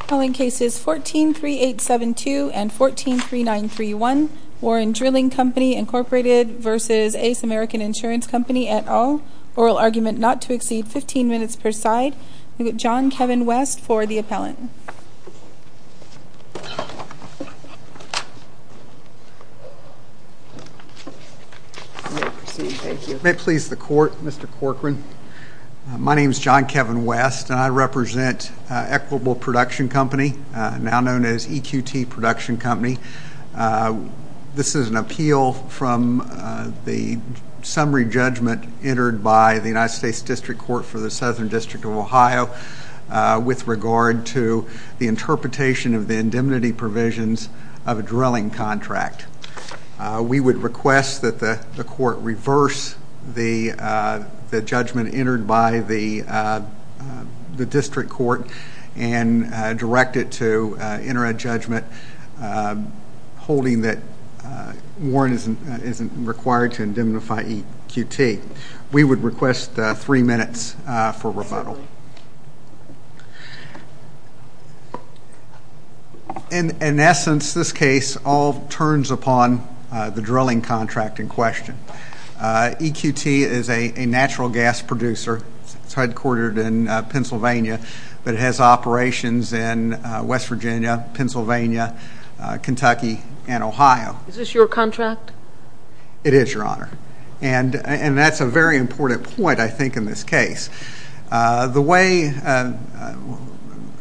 Calling cases 143872 and 143931 Warren Drilling Company, Inc. v. Ace American Insurance Company, et al. Oral argument not to exceed 15 minutes per side. John Kevin West for the appellant. May it please the Court, Mr. Corcoran. My name is John Kevin West and I represent Equitable Production Company, now known as EQT Production Company. This is an appeal from the summary judgment entered by the United States District Court for the Southern District of Ohio with regard to the interpretation of the indemnity provisions of a drilling contract. We would request that the Court reverse the judgment entered by the District Court and direct it to enter a judgment holding that Warren isn't required to indemnify EQT. We would request three minutes for rebuttal. In essence, this case all turns upon the drilling contract in question. EQT is a natural gas producer. It's headquartered in Pennsylvania, but it has operations in West Virginia, Pennsylvania, Kentucky, and Ohio. Is this your contract? It is, Your Honor. And that's a very important point, I think, in this case. The way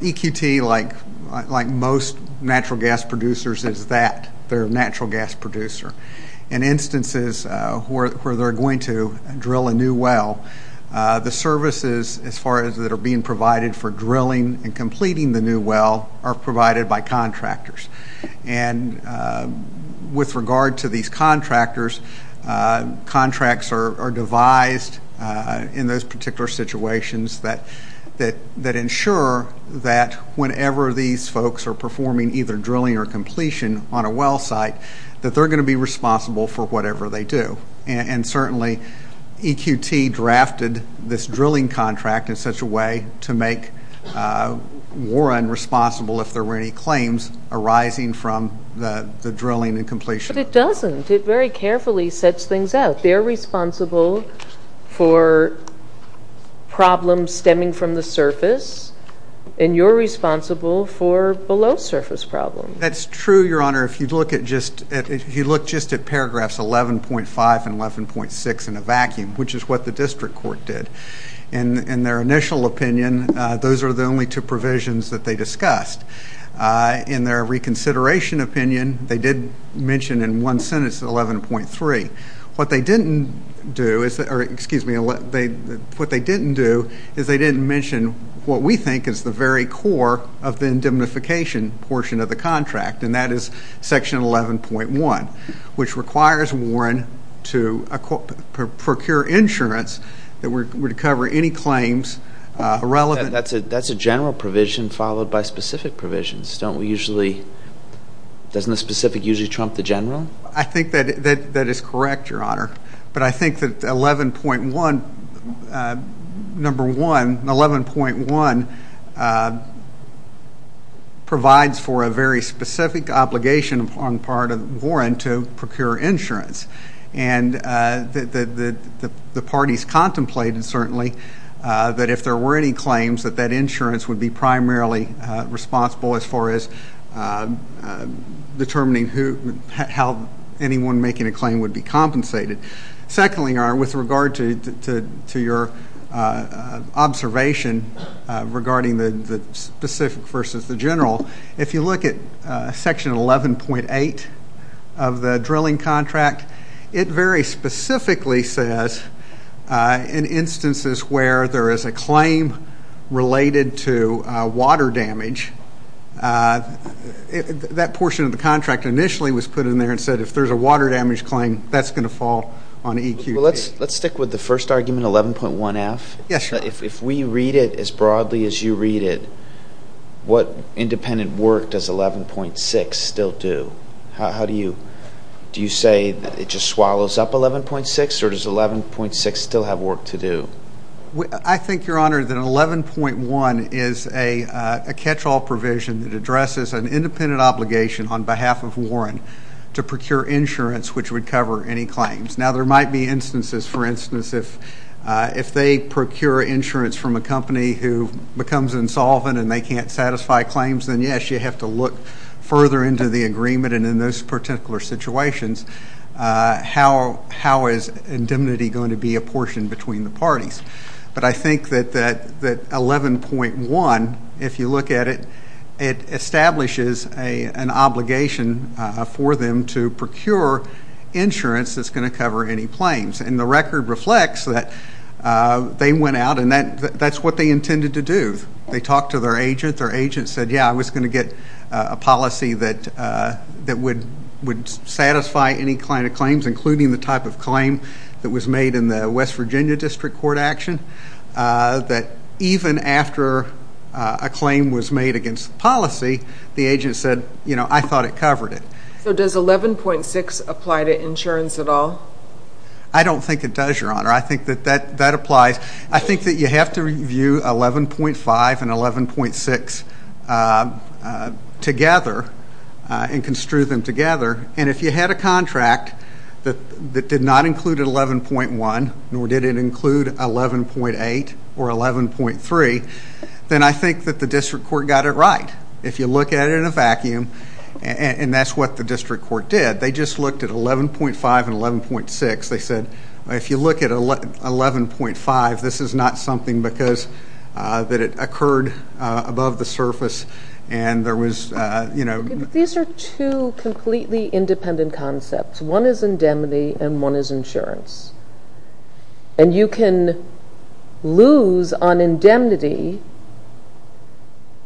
EQT, like most natural gas producers, is that they're a natural gas producer. In instances where they're going to drill a new well, the services, as far as that are being provided for drilling and completing the new well, are provided by contractors. Contracts are devised in those particular situations that ensure that whenever these folks are performing either drilling or completion on a well site, that they're going to be responsible for whatever they do. And certainly EQT drafted this drilling contract in such a way to make Warren responsible if there were any claims arising from the drilling and completion. But it doesn't. It very carefully sets things out. They're responsible for problems stemming from the surface, and you're responsible for below-surface problems. That's true, Your Honor. If you look just at paragraphs 11.5 and 11.6 in a vacuum, which is what the district court did, in their initial opinion, those are the only two provisions that they discussed. In their consideration opinion, they did mention in one sentence 11.3. What they didn't do is they didn't mention what we think is the very core of the indemnification portion of the contract, and that is section 11.1, which requires Warren to procure insurance that would cover any claims irrelevant. That's a general provision followed by specific provisions. Doesn't the specific usually trump the general? I think that is correct, Your Honor. But I think that 11.1 provides for a very specific obligation on the part of insurance, and the parties contemplated, certainly, that if there were any claims, that that insurance would be primarily responsible as far as determining how anyone making a claim would be compensated. Secondly, Your Honor, with regard to your observation regarding the specific versus the general, if you look at section 11.8 of the drilling contract, it very specifically says in instances where there is a claim related to water damage, that portion of the contract initially was put in there and said if there's a water damage claim, that's going to fall on EQD. Let's stick with the first argument, 11.1F. If we read it as broadly as you read it, what independent work does 11.6 still do? Do you say that it just swallows up 11.6, or does 11.6 still have work to do? I think, Your Honor, that 11.1 is a catch-all provision that addresses an independent obligation on behalf of Warren to procure insurance which would cover any claims. Now, there might be instances, for instance, if they procure insurance from a company who becomes insolvent and they can't satisfy claims, then, yes, you have to look further into the agreement and in those particular situations, how is indemnity going to be apportioned between the parties? But I think that 11.1, if you look at it, it establishes an obligation for them to procure insurance that's going to cover any claims. And the record reflects that they went out and that's what they intended to do. They talked to their agent. Their agent said, yeah, I was going to get a policy that would satisfy any kind of claims, including the type of claim that was made in the West Virginia District Court action, that even after a claim was made against the policy, the agent said, you know, I thought it covered it. So does 11.6 apply to insurance at all? I don't think it does, Your Honor. I think that that applies. I think that you have to review 11.5 and 11.6 together and construe them together. And if you had a contract that did not include 11.1, nor did it include 11.8 or 11.3, then I think that the District Court got it right. If you look at it in a vacuum, and that's what the District Court did, they just looked at 11.5 and 11.6. They said, if you look at 11.5, this is not something because that it occurred above the surface and there was, you know. These are two completely independent concepts. One is indemnity and one is insurance. And you can lose on indemnity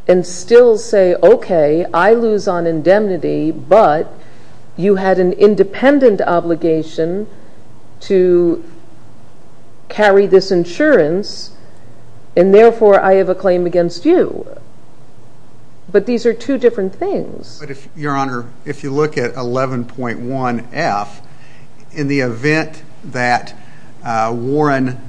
and still say, okay, I lose on indemnity, but you had an independent obligation to carry this insurance. And therefore, I have a claim against you. But these are two different things. But if, Your Honor, if you look at 11.1F, in the event that Warren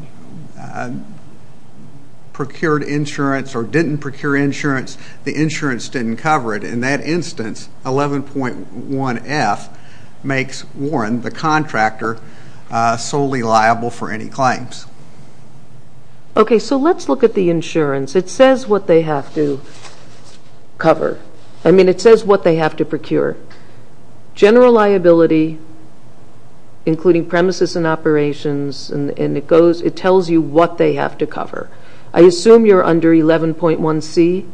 procured insurance or didn't procure insurance, the insurance didn't cover it. In that instance, 11.1F makes Warren, the contractor, solely liable for any claims. Okay, so let's look at the insurance. It says what they have to cover. I mean, it says what they have to procure. General liability, including premises and operations, and it goes, it tells you what they have to cover. I assume you're under 11.1C?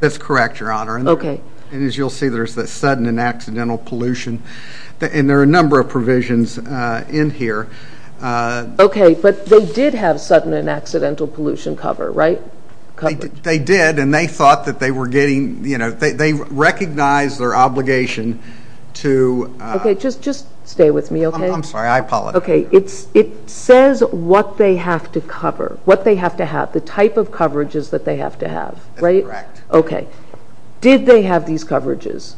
That's correct, Your Honor. Okay. And as you'll see, there's the sudden and accidental pollution. And there are a number of provisions in here. Okay, but they did have sudden and accidental pollution cover, right? They did, and they thought that they were getting, you know, they recognized their obligation to Okay, just stay with me, okay? I'm sorry, I apologize. Okay, it says what they have to cover, what they have to have, the type of coverages that they have to have, right? That's correct. Okay. Did they have these coverages?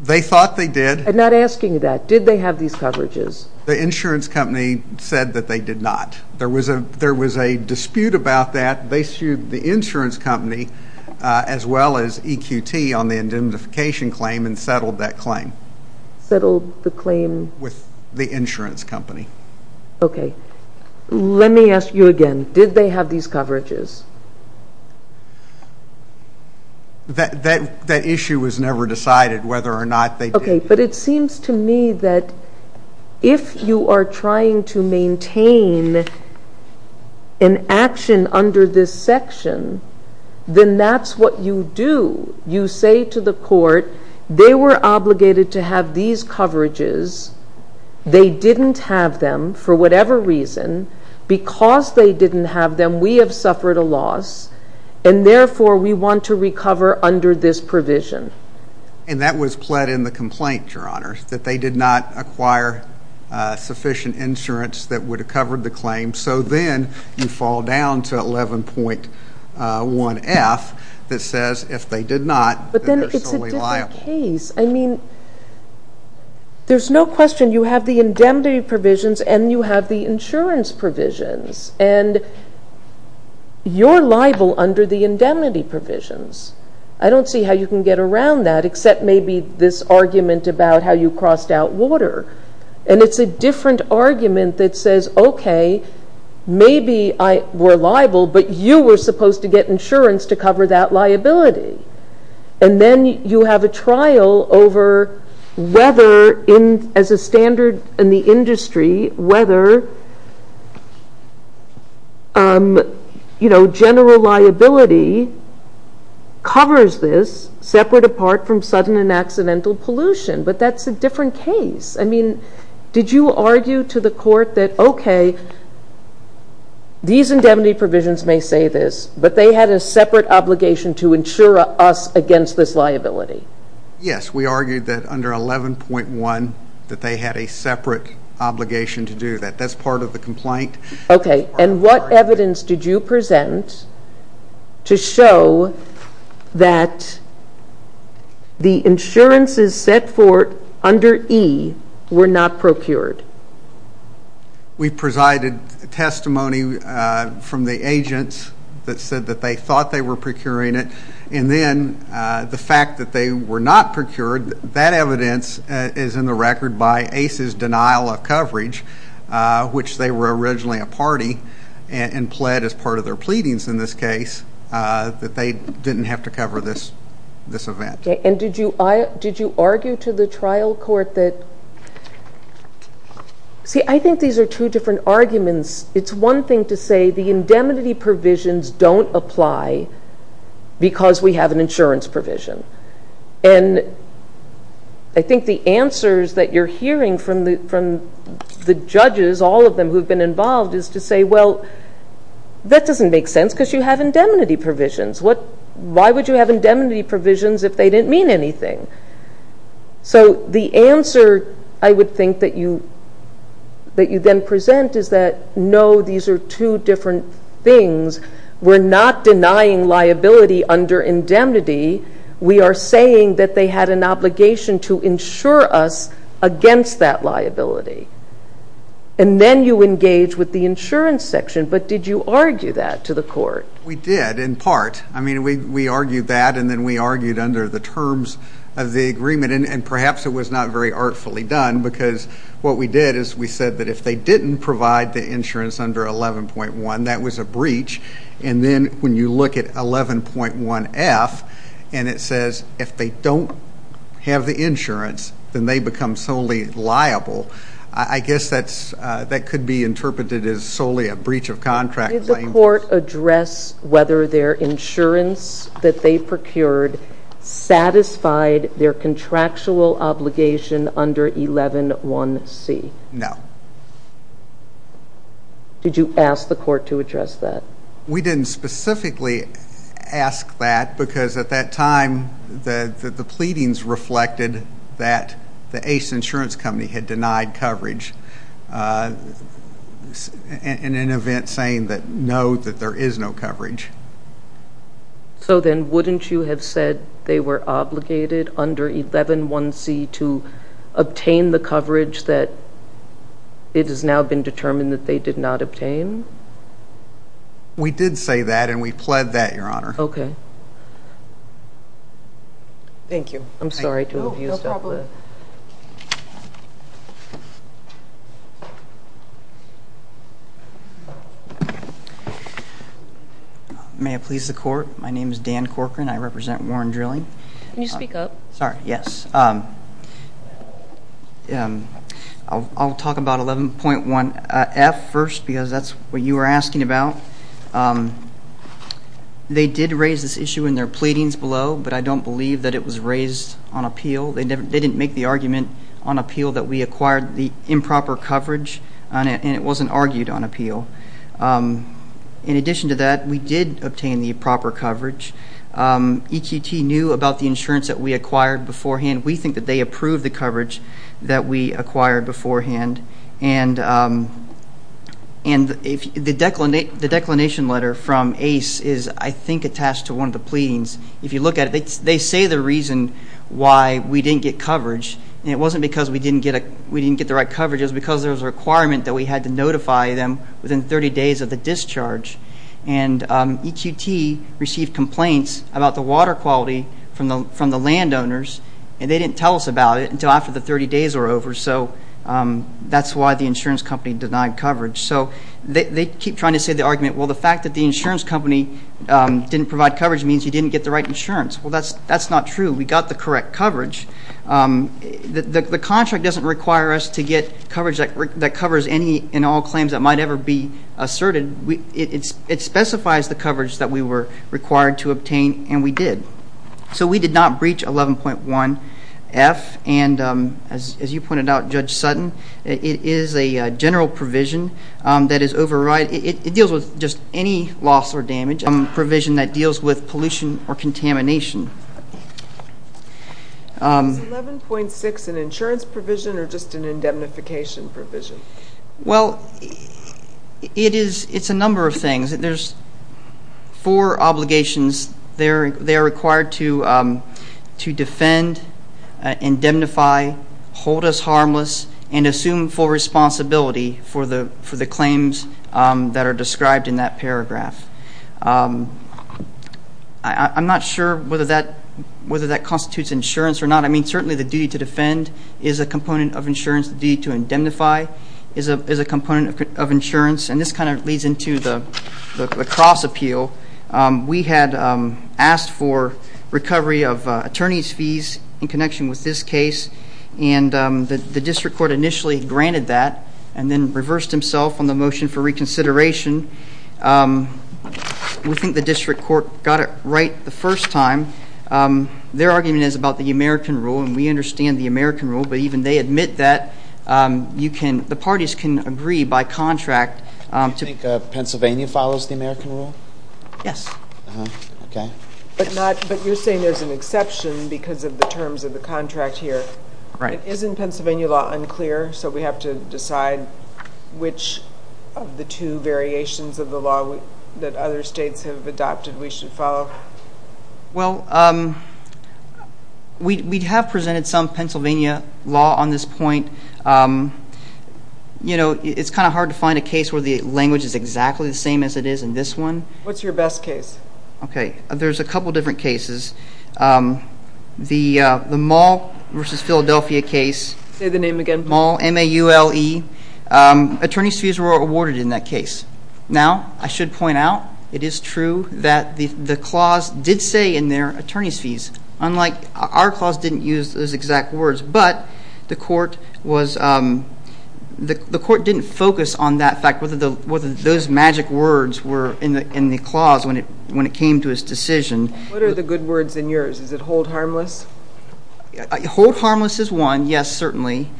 They thought they did. I'm not asking that. Did they have these coverages? The insurance company said that they did not. There was a dispute about that. They sued the insurance company as well as EQT on the indemnification claim and settled that claim. Settled the claim? With the insurance company. Okay. Let me ask you again. Did they have these coverages? That issue was never decided whether or not they did. Okay, but it seems to me that if you are trying to maintain an action under this section, then that's what you do. You say to the court, they were obligated to have these coverages. They didn't have them for whatever reason. Because they didn't have them, we have suffered a loss, and therefore, we want to recover under this provision. And that was pled in the complaint, Your Honor, that they did not acquire sufficient insurance that would have covered the claim. So then you fall down to 11.1F that says if they did not, then they're solely liable. But then it's a different case. I mean, there's no question you have the indemnity provisions and you have the insurance provisions. And you're liable under the indemnity provisions. I don't see how you can get around that, except maybe this argument about how you crossed out water. And it's a different argument that says, okay, maybe we're liable, but you were supposed to get insurance to cover that liability. And then you have a trial over whether, as a standard in the industry, whether general liability covers this separate apart from sudden and accidental pollution. But that's a different case. I mean, did you argue to the court that, okay, these indemnity provisions may say this, but they had a separate obligation to insure us against this liability? Yes, we argued that under 11.1 that they had a separate obligation to do that. That's part of the complaint. Okay. And what evidence did you present to show that the insurances set forth under E were not procured? We presided testimony from the agents that said that they thought they were procuring it. And then the fact that they were not procured, that evidence is in the record by ACE's denial of coverage, which they were originally a party and pled as part of their pleadings in this case that they didn't have to cover this event. Okay. And did you argue to the trial court that, see, I think these are two different arguments. It's one thing to say the indemnity provisions don't apply because we have an insurance provision. And I think the answers that you're hearing from the judges, all of them who have been involved, is to say, well, that doesn't make sense because you have indemnity provisions. Why would you have indemnity provisions if they didn't mean anything? So the answer I would think that you then present is that, no, these are two different things. We're not denying liability under indemnity. We are saying that they had an obligation to insure us against that liability. And then you engage with the insurance section. But did you argue that to the court? We did, in part. I mean, we argued that, and then we argued under the terms of the agreement. And perhaps it was not very artfully done because what we did is we said that if they didn't provide the insurance under 11.1, that was a breach. And then when you look at 11.1F and it says if they don't have the insurance, then they become solely liable, I guess that could be interpreted as solely a breach of contract. Did the court address whether their insurance that they procured satisfied their contractual obligation under 11.1C? No. Did you ask the court to address that? We didn't specifically ask that because at that time the pleadings reflected that the Ace Insurance Company had denied coverage in an event saying that no, that there is no coverage. So then wouldn't you have said they were obligated under 11.1C to obtain the coverage that it has now been determined that they did not obtain? We did say that, and we pled that, Your Honor. Okay. Thank you. I'm sorry to have used that. No problem. May I please the court? My name is Dan Corcoran. I represent Warren Drilling. Can you speak up? Sorry, yes. I'll talk about 11.1F first because that's what you were asking about. They did raise this issue in their pleadings below, but I don't believe that it was raised on appeal. They didn't make the argument on appeal that we acquired the improper coverage, and it wasn't argued on appeal. In addition to that, we did obtain the improper coverage. EQT knew about the insurance that we acquired beforehand. We think that they approved the coverage that we acquired beforehand. And the declination letter from ACE is, I think, attached to one of the pleadings. If you look at it, they say the reason why we didn't get coverage, and it wasn't because we didn't get the right coverage. It was because there was a requirement that we had to notify them within 30 days of the discharge. And EQT received complaints about the water quality from the landowners, and they didn't tell us about it until after the 30 days were over. So that's why the insurance company denied coverage. So they keep trying to say the argument, well, the fact that the insurance company didn't provide coverage means you didn't get the right insurance. Well, that's not true. We got the correct coverage. The contract doesn't require us to get coverage that covers any and all claims that might ever be asserted. It specifies the coverage that we were required to obtain, and we did. So we did not breach 11.1F. And as you pointed out, Judge Sutton, it is a general provision that is override. It deals with just any loss or damage provision that deals with pollution or contamination. Is 11.6 an insurance provision or just an indemnification provision? Well, it's a number of things. There's four obligations. They are required to defend, indemnify, hold us harmless, and assume full responsibility for the claims that are described in that paragraph. I'm not sure whether that constitutes insurance or not. I mean, certainly the duty to defend is a component of insurance. The duty to indemnify is a component of insurance. And this kind of leads into the cross appeal. We had asked for recovery of attorney's fees in connection with this case, and the district court initially granted that and then reversed himself on the motion for reconsideration. We think the district court got it right the first time. Their argument is about the American rule, and we understand the American rule, but even they admit that the parties can agree by contract. Do you think Pennsylvania follows the American rule? Yes. Okay. But you're saying there's an exception because of the terms of the contract here. Right. Isn't Pennsylvania law unclear, so we have to decide which of the two variations of the law that other states have adopted we should follow? Well, we have presented some Pennsylvania law on this point. You know, it's kind of hard to find a case where the language is exactly the same as it is in this one. What's your best case? Okay. There's a couple different cases. The Mall v. Philadelphia case. Say the name again. Mall, M-A-U-L-L-E. Attorney's fees were awarded in that case. Now, I should point out it is true that the clause did say in there attorney's fees, unlike our clause didn't use those exact words, but the court didn't focus on that fact, whether those magic words were in the clause when it came to its decision. What are the good words in yours? Is it hold harmless? Hold harmless is one, yes, certainly.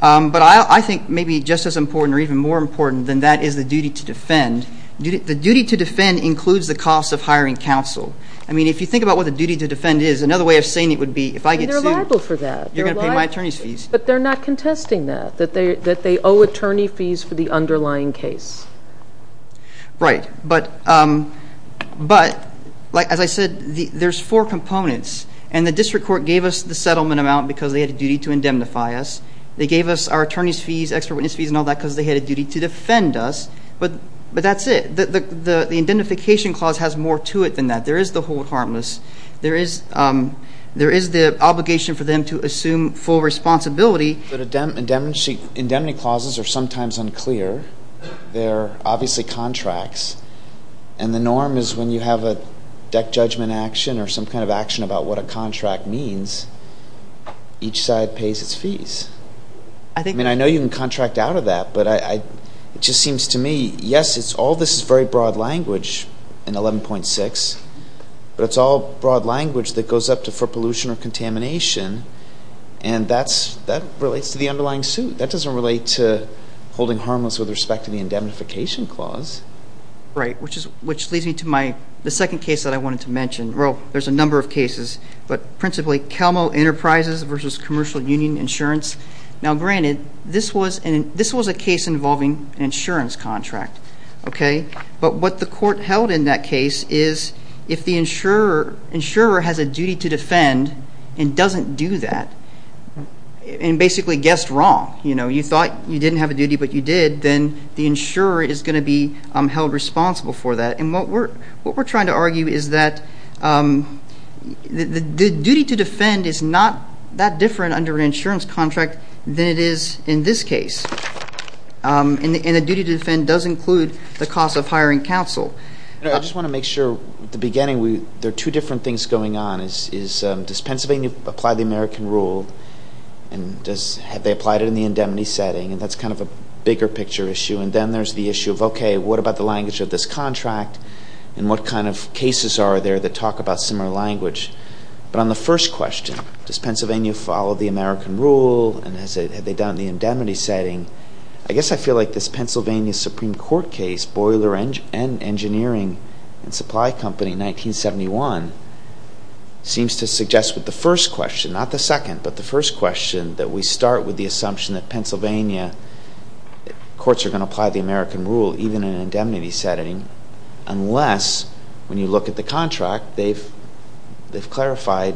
But I think maybe just as important or even more important than that is the duty to defend. The duty to defend includes the cost of hiring counsel. I mean, if you think about what the duty to defend is, another way of saying it would be if I get sued. And they're liable for that. You're going to pay my attorney's fees. But they're not contesting that, that they owe attorney fees for the underlying case. Right. But, as I said, there's four components. And the district court gave us the settlement amount because they had a duty to indemnify us. They gave us our attorney's fees, expert witness fees and all that because they had a duty to defend us. But that's it. The indemnification clause has more to it than that. There is the hold harmless. There is the obligation for them to assume full responsibility. But indemnity clauses are sometimes unclear. They're obviously contracts. And the norm is when you have a deck judgment action or some kind of action about what a contract means, each side pays its fees. I mean, I know you can contract out of that. But it just seems to me, yes, all this is very broad language in 11.6. But it's all broad language that goes up to for pollution or contamination. And that relates to the underlying suit. That doesn't relate to holding harmless with respect to the indemnification clause. Right, which leads me to the second case that I wanted to mention. Well, there's a number of cases, but principally CalMo Enterprises versus Commercial Union Insurance. Now, granted, this was a case involving an insurance contract. But what the court held in that case is if the insurer has a duty to defend and doesn't do that and basically guessed wrong, you know, you thought you didn't have a duty, but you did, then the insurer is going to be held responsible for that. And what we're trying to argue is that the duty to defend is not that different under an insurance contract than it is in this case. And the duty to defend does include the cost of hiring counsel. I just want to make sure at the beginning there are two different things going on. The first is does Pennsylvania apply the American rule and have they applied it in the indemnity setting? And that's kind of a bigger picture issue. And then there's the issue of, okay, what about the language of this contract and what kind of cases are there that talk about similar language? But on the first question, does Pennsylvania follow the American rule and have they done it in the indemnity setting? I guess I feel like this Pennsylvania Supreme Court case, Boiler and Engineering and Supply Company, 1971, seems to suggest with the first question, not the second, but the first question, that we start with the assumption that Pennsylvania courts are going to apply the American rule even in an indemnity setting unless when you look at the contract they've clarified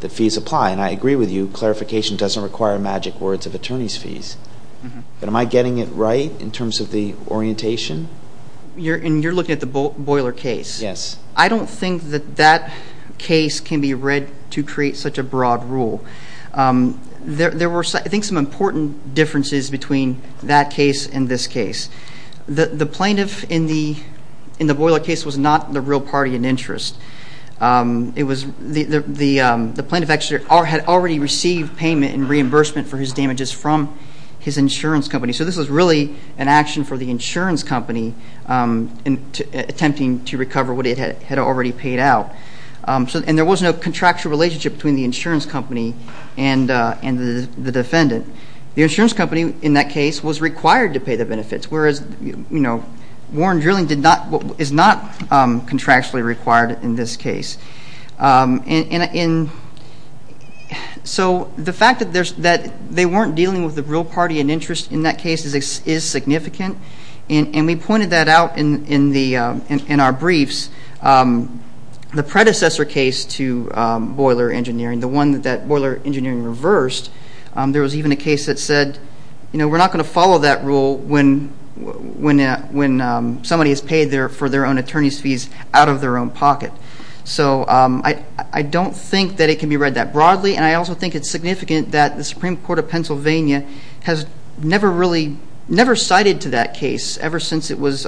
that fees apply. And I agree with you. Those are magic words of attorney's fees. But am I getting it right in terms of the orientation? And you're looking at the Boiler case? Yes. I don't think that that case can be read to create such a broad rule. There were, I think, some important differences between that case and this case. The plaintiff in the Boiler case was not the real party in interest. The plaintiff actually had already received payment and reimbursement for his damages from his insurance company. So this was really an action for the insurance company attempting to recover what it had already paid out. And there was no contractual relationship between the insurance company and the defendant. The insurance company in that case was required to pay the benefits, whereas Warren Drilling is not contractually required in this case. So the fact that they weren't dealing with the real party in interest in that case is significant, and we pointed that out in our briefs. The predecessor case to Boiler Engineering, the one that Boiler Engineering reversed, there was even a case that said, you know, we're not going to follow that rule when somebody has paid for their own attorney's fees out of their own pocket. So I don't think that it can be read that broadly, and I also think it's significant that the Supreme Court of Pennsylvania has never cited to that case ever since it was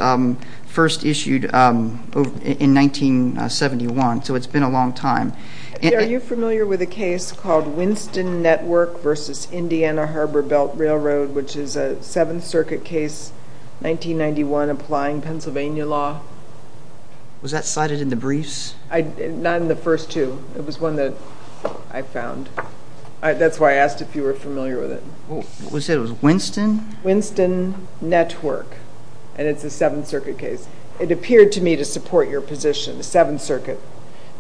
first issued in 1971. So it's been a long time. Are you familiar with a case called Winston Network versus Indiana Harbor Belt Railroad, which is a Seventh Circuit case, 1991, applying Pennsylvania law? Was that cited in the briefs? Not in the first two. It was one that I found. That's why I asked if you were familiar with it. Was it Winston? Winston Network, and it's a Seventh Circuit case. It appeared to me to support your position, the Seventh Circuit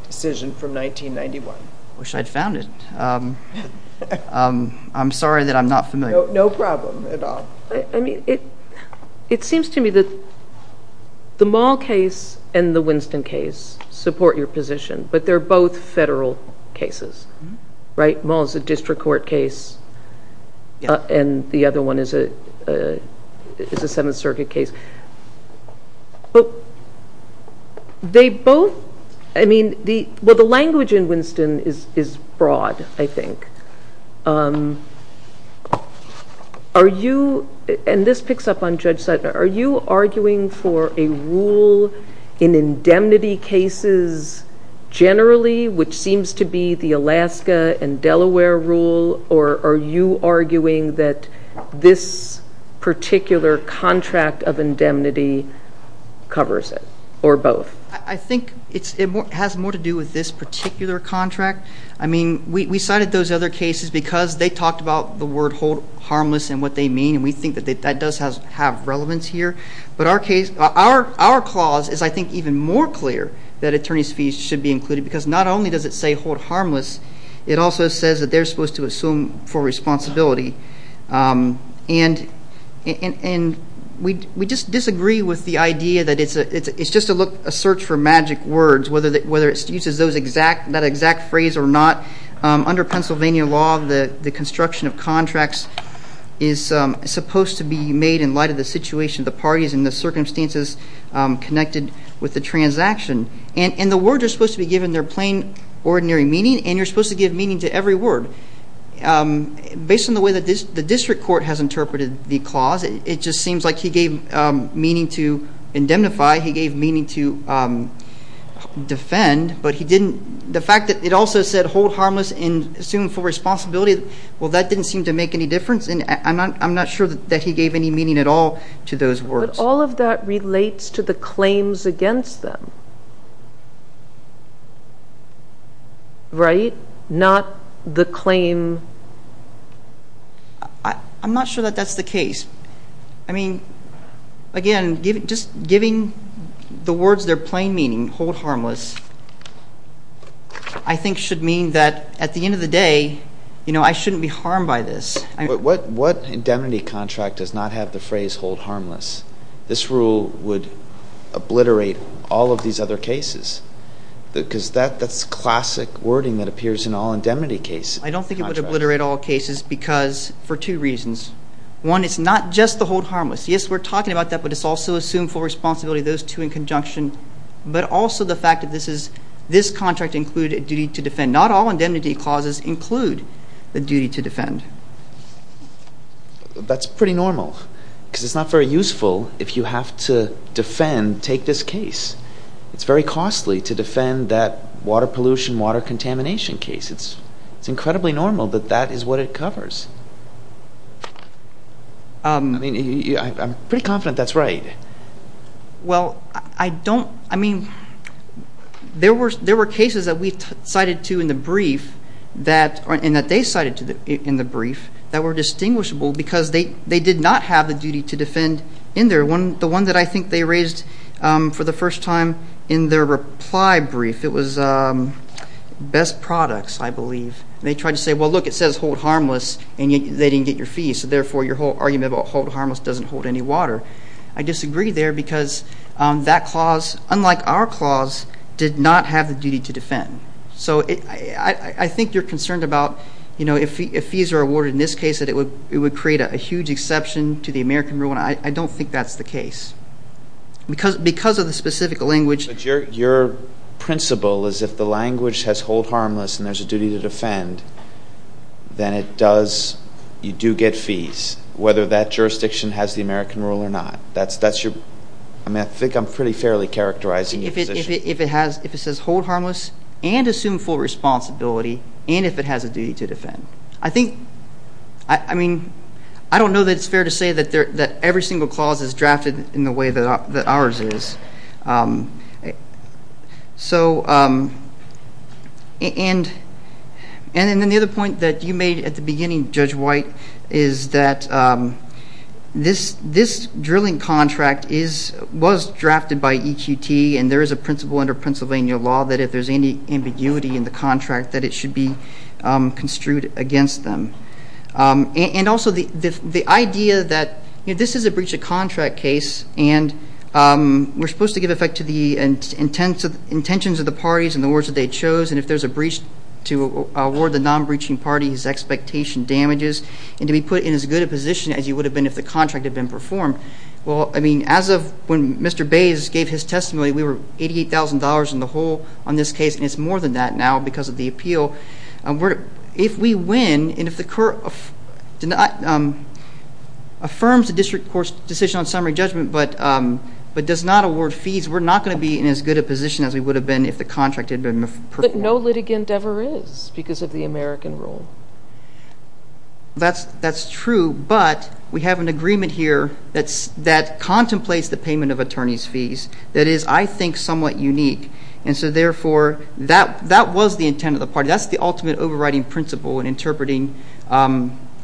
decision from 1991. Wish I'd found it. I'm sorry that I'm not familiar. No problem at all. I mean, it seems to me that the Mall case and the Winston case support your position, but they're both federal cases, right? One is a district court case, and the other one is a Seventh Circuit case. But they both, I mean, well, the language in Winston is broad, I think. Are you, and this picks up on Judge Seidner, are you arguing for a rule in indemnity cases generally, which seems to be the Alaska and Delaware rule, or are you arguing that this particular contract of indemnity covers it, or both? I think it has more to do with this particular contract. I mean, we cited those other cases because they talked about the word harmless and what they mean, and we think that that does have relevance here. But our clause is, I think, even more clear that attorney's fees should be included because not only does it say hold harmless, it also says that they're supposed to assume full responsibility. And we just disagree with the idea that it's just a search for magic words, whether it uses that exact phrase or not. Under Pennsylvania law, the construction of contracts is supposed to be made in light of the situation of the parties and the circumstances connected with the transaction. And the words are supposed to be given their plain, ordinary meaning, and you're supposed to give meaning to every word. Based on the way that the district court has interpreted the clause, it just seems like he gave meaning to indemnify, he gave meaning to defend, but he didn't, the fact that it also said hold harmless and assume full responsibility, well, that didn't seem to make any difference, and I'm not sure that he gave any meaning at all to those words. But all of that relates to the claims against them, right? Not the claim. I'm not sure that that's the case. I mean, again, just giving the words their plain meaning, hold harmless, I think should mean that at the end of the day, you know, I shouldn't be harmed by this. But what indemnity contract does not have the phrase hold harmless? This rule would obliterate all of these other cases because that's classic wording that appears in all indemnity cases. I don't think it would obliterate all cases because for two reasons. One, it's not just the hold harmless. Yes, we're talking about that, but it's also assume full responsibility, those two in conjunction, but also the fact that this contract included a duty to defend. Not all indemnity clauses include the duty to defend. That's pretty normal because it's not very useful if you have to defend, take this case. It's very costly to defend that water pollution, water contamination case. It's incredibly normal that that is what it covers. I mean, I'm pretty confident that's right. Well, I don't, I mean, there were cases that we cited to in the brief and that they cited to in the brief that were distinguishable because they did not have the duty to defend in there. The one that I think they raised for the first time in their reply brief, it was best products, I believe. They tried to say, well, look, it says hold harmless and they didn't get your fee, so therefore your whole argument about hold harmless doesn't hold any water. I disagree there because that clause, unlike our clause, did not have the duty to defend. So I think you're concerned about, you know, if fees are awarded in this case, that it would create a huge exception to the American rule, and I don't think that's the case. Because of the specific language. But your principle is if the language has hold harmless and there's a duty to defend, then it does, you do get fees, whether that jurisdiction has the American rule or not. That's your, I think I'm pretty fairly characterizing your position. If it has, if it says hold harmless and assume full responsibility and if it has a duty to defend. I think, I mean, I don't know that it's fair to say that every single clause is drafted in the way that ours is. So, and then the other point that you made at the beginning, Judge White, is that this drilling contract is, was drafted by EQT and there is a principle under Pennsylvania law that if there's any ambiguity in the contract that it should be construed against them. And also the idea that, you know, this is a breach of contract case, and we're supposed to give effect to the intentions of the parties and the words that they chose, and if there's a breach, to award the non-breaching party his expectation damages, and to be put in as good a position as you would have been if the contract had been performed. Well, I mean, as of when Mr. Bays gave his testimony, we were $88,000 in the hole on this case, and it's more than that now because of the appeal. So if we win and if the court affirms the district court's decision on summary judgment but does not award fees, we're not going to be in as good a position as we would have been if the contract had been performed. But no litigant ever is because of the American rule. That's true, but we have an agreement here that contemplates the payment of attorney's fees that is, I think, somewhat unique. And so, therefore, that was the intent of the party. That's the ultimate overriding principle in interpreting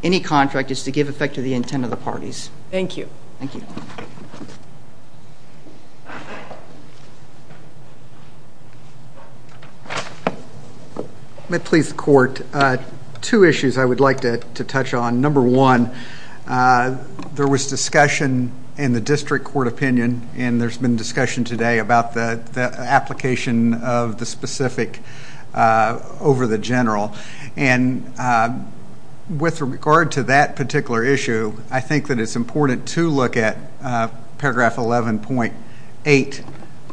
any contract is to give effect to the intent of the parties. Thank you. Thank you. May it please the court, two issues I would like to touch on. Number one, there was discussion in the district court opinion, and there's been discussion today about the application of the specific over the general. And with regard to that particular issue, I think that it's important to look at paragraph 11.8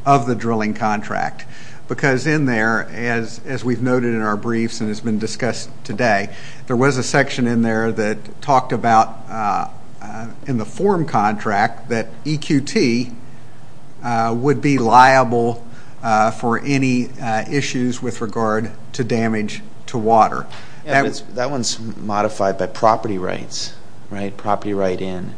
of the drilling contract because in there, as we've noted in our briefs and has been discussed today, there was a section in there that talked about, in the form contract, that EQT would be liable for any issues with regard to damage to water. That one's modified by property rights, right, property right in.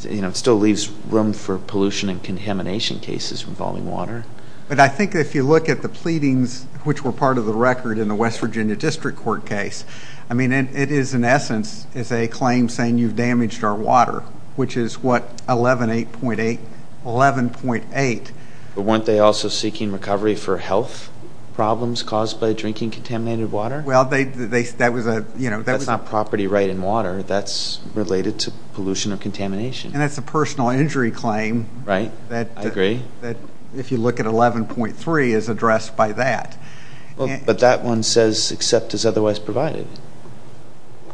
You know, it still leaves room for pollution and contamination cases involving water. But I think if you look at the pleadings, which were part of the record in the West Virginia District Court case, I mean, it is, in essence, it's a claim saying you've damaged our water, which is what, 11.8? 11.8. But weren't they also seeking recovery for health problems caused by drinking contaminated water? Well, that was a, you know. That's not property right in water. That's related to pollution or contamination. And that's a personal injury claim. Right. I agree. That, if you look at 11.3, is addressed by that. But that one says, except as otherwise provided.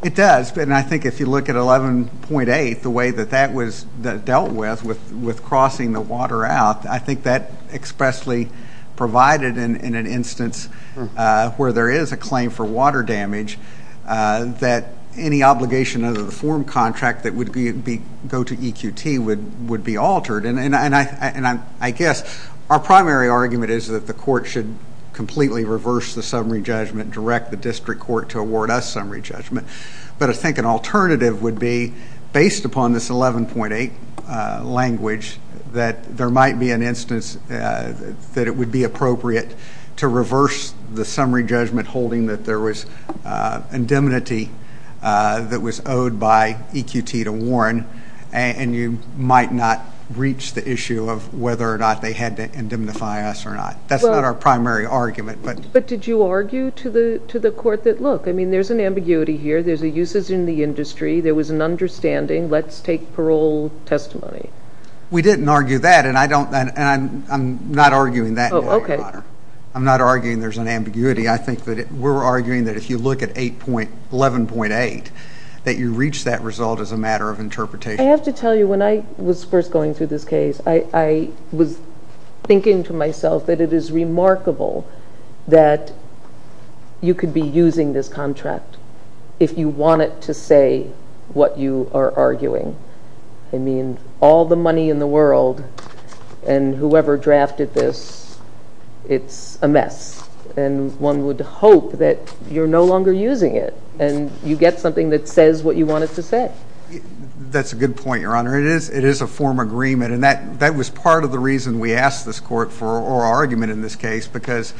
It does. And I think if you look at 11.8, the way that that was dealt with, with crossing the water out, I think that expressly provided in an instance where there is a claim for water damage, that any obligation under the form contract that would go to EQT would be altered. And I guess our primary argument is that the court should completely reverse the summary judgment, direct the district court to award us summary judgment. But I think an alternative would be, based upon this 11.8 language, that there might be an instance that it would be appropriate to reverse the summary judgment holding that there was indemnity that was owed by EQT to Warren, and you might not reach the issue of whether or not they had to indemnify us or not. That's not our primary argument. But did you argue to the court that, look, I mean, there's an ambiguity here. There's a uses in the industry. There was an understanding. Let's take parole testimony. We didn't argue that, and I'm not arguing that. Oh, okay. I'm not arguing there's an ambiguity. I think that we're arguing that if you look at 11.8, that you reach that result as a matter of interpretation. I have to tell you, when I was first going through this case, I was thinking to myself that it is remarkable that you could be using this contract if you want it to say what you are arguing. I mean, all the money in the world and whoever drafted this, it's a mess. And one would hope that you're no longer using it, and you get something that says what you want it to say. That's a good point, Your Honor. It is a form of agreement, and that was part of the reason we asked this court for our argument in this case because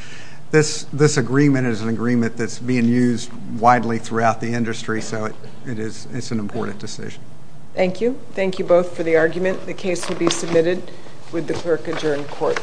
this agreement is an agreement that's being used widely throughout the industry, so it's an important decision. Thank you. Thank you both for the argument. The case will be submitted with the clerk adjourned.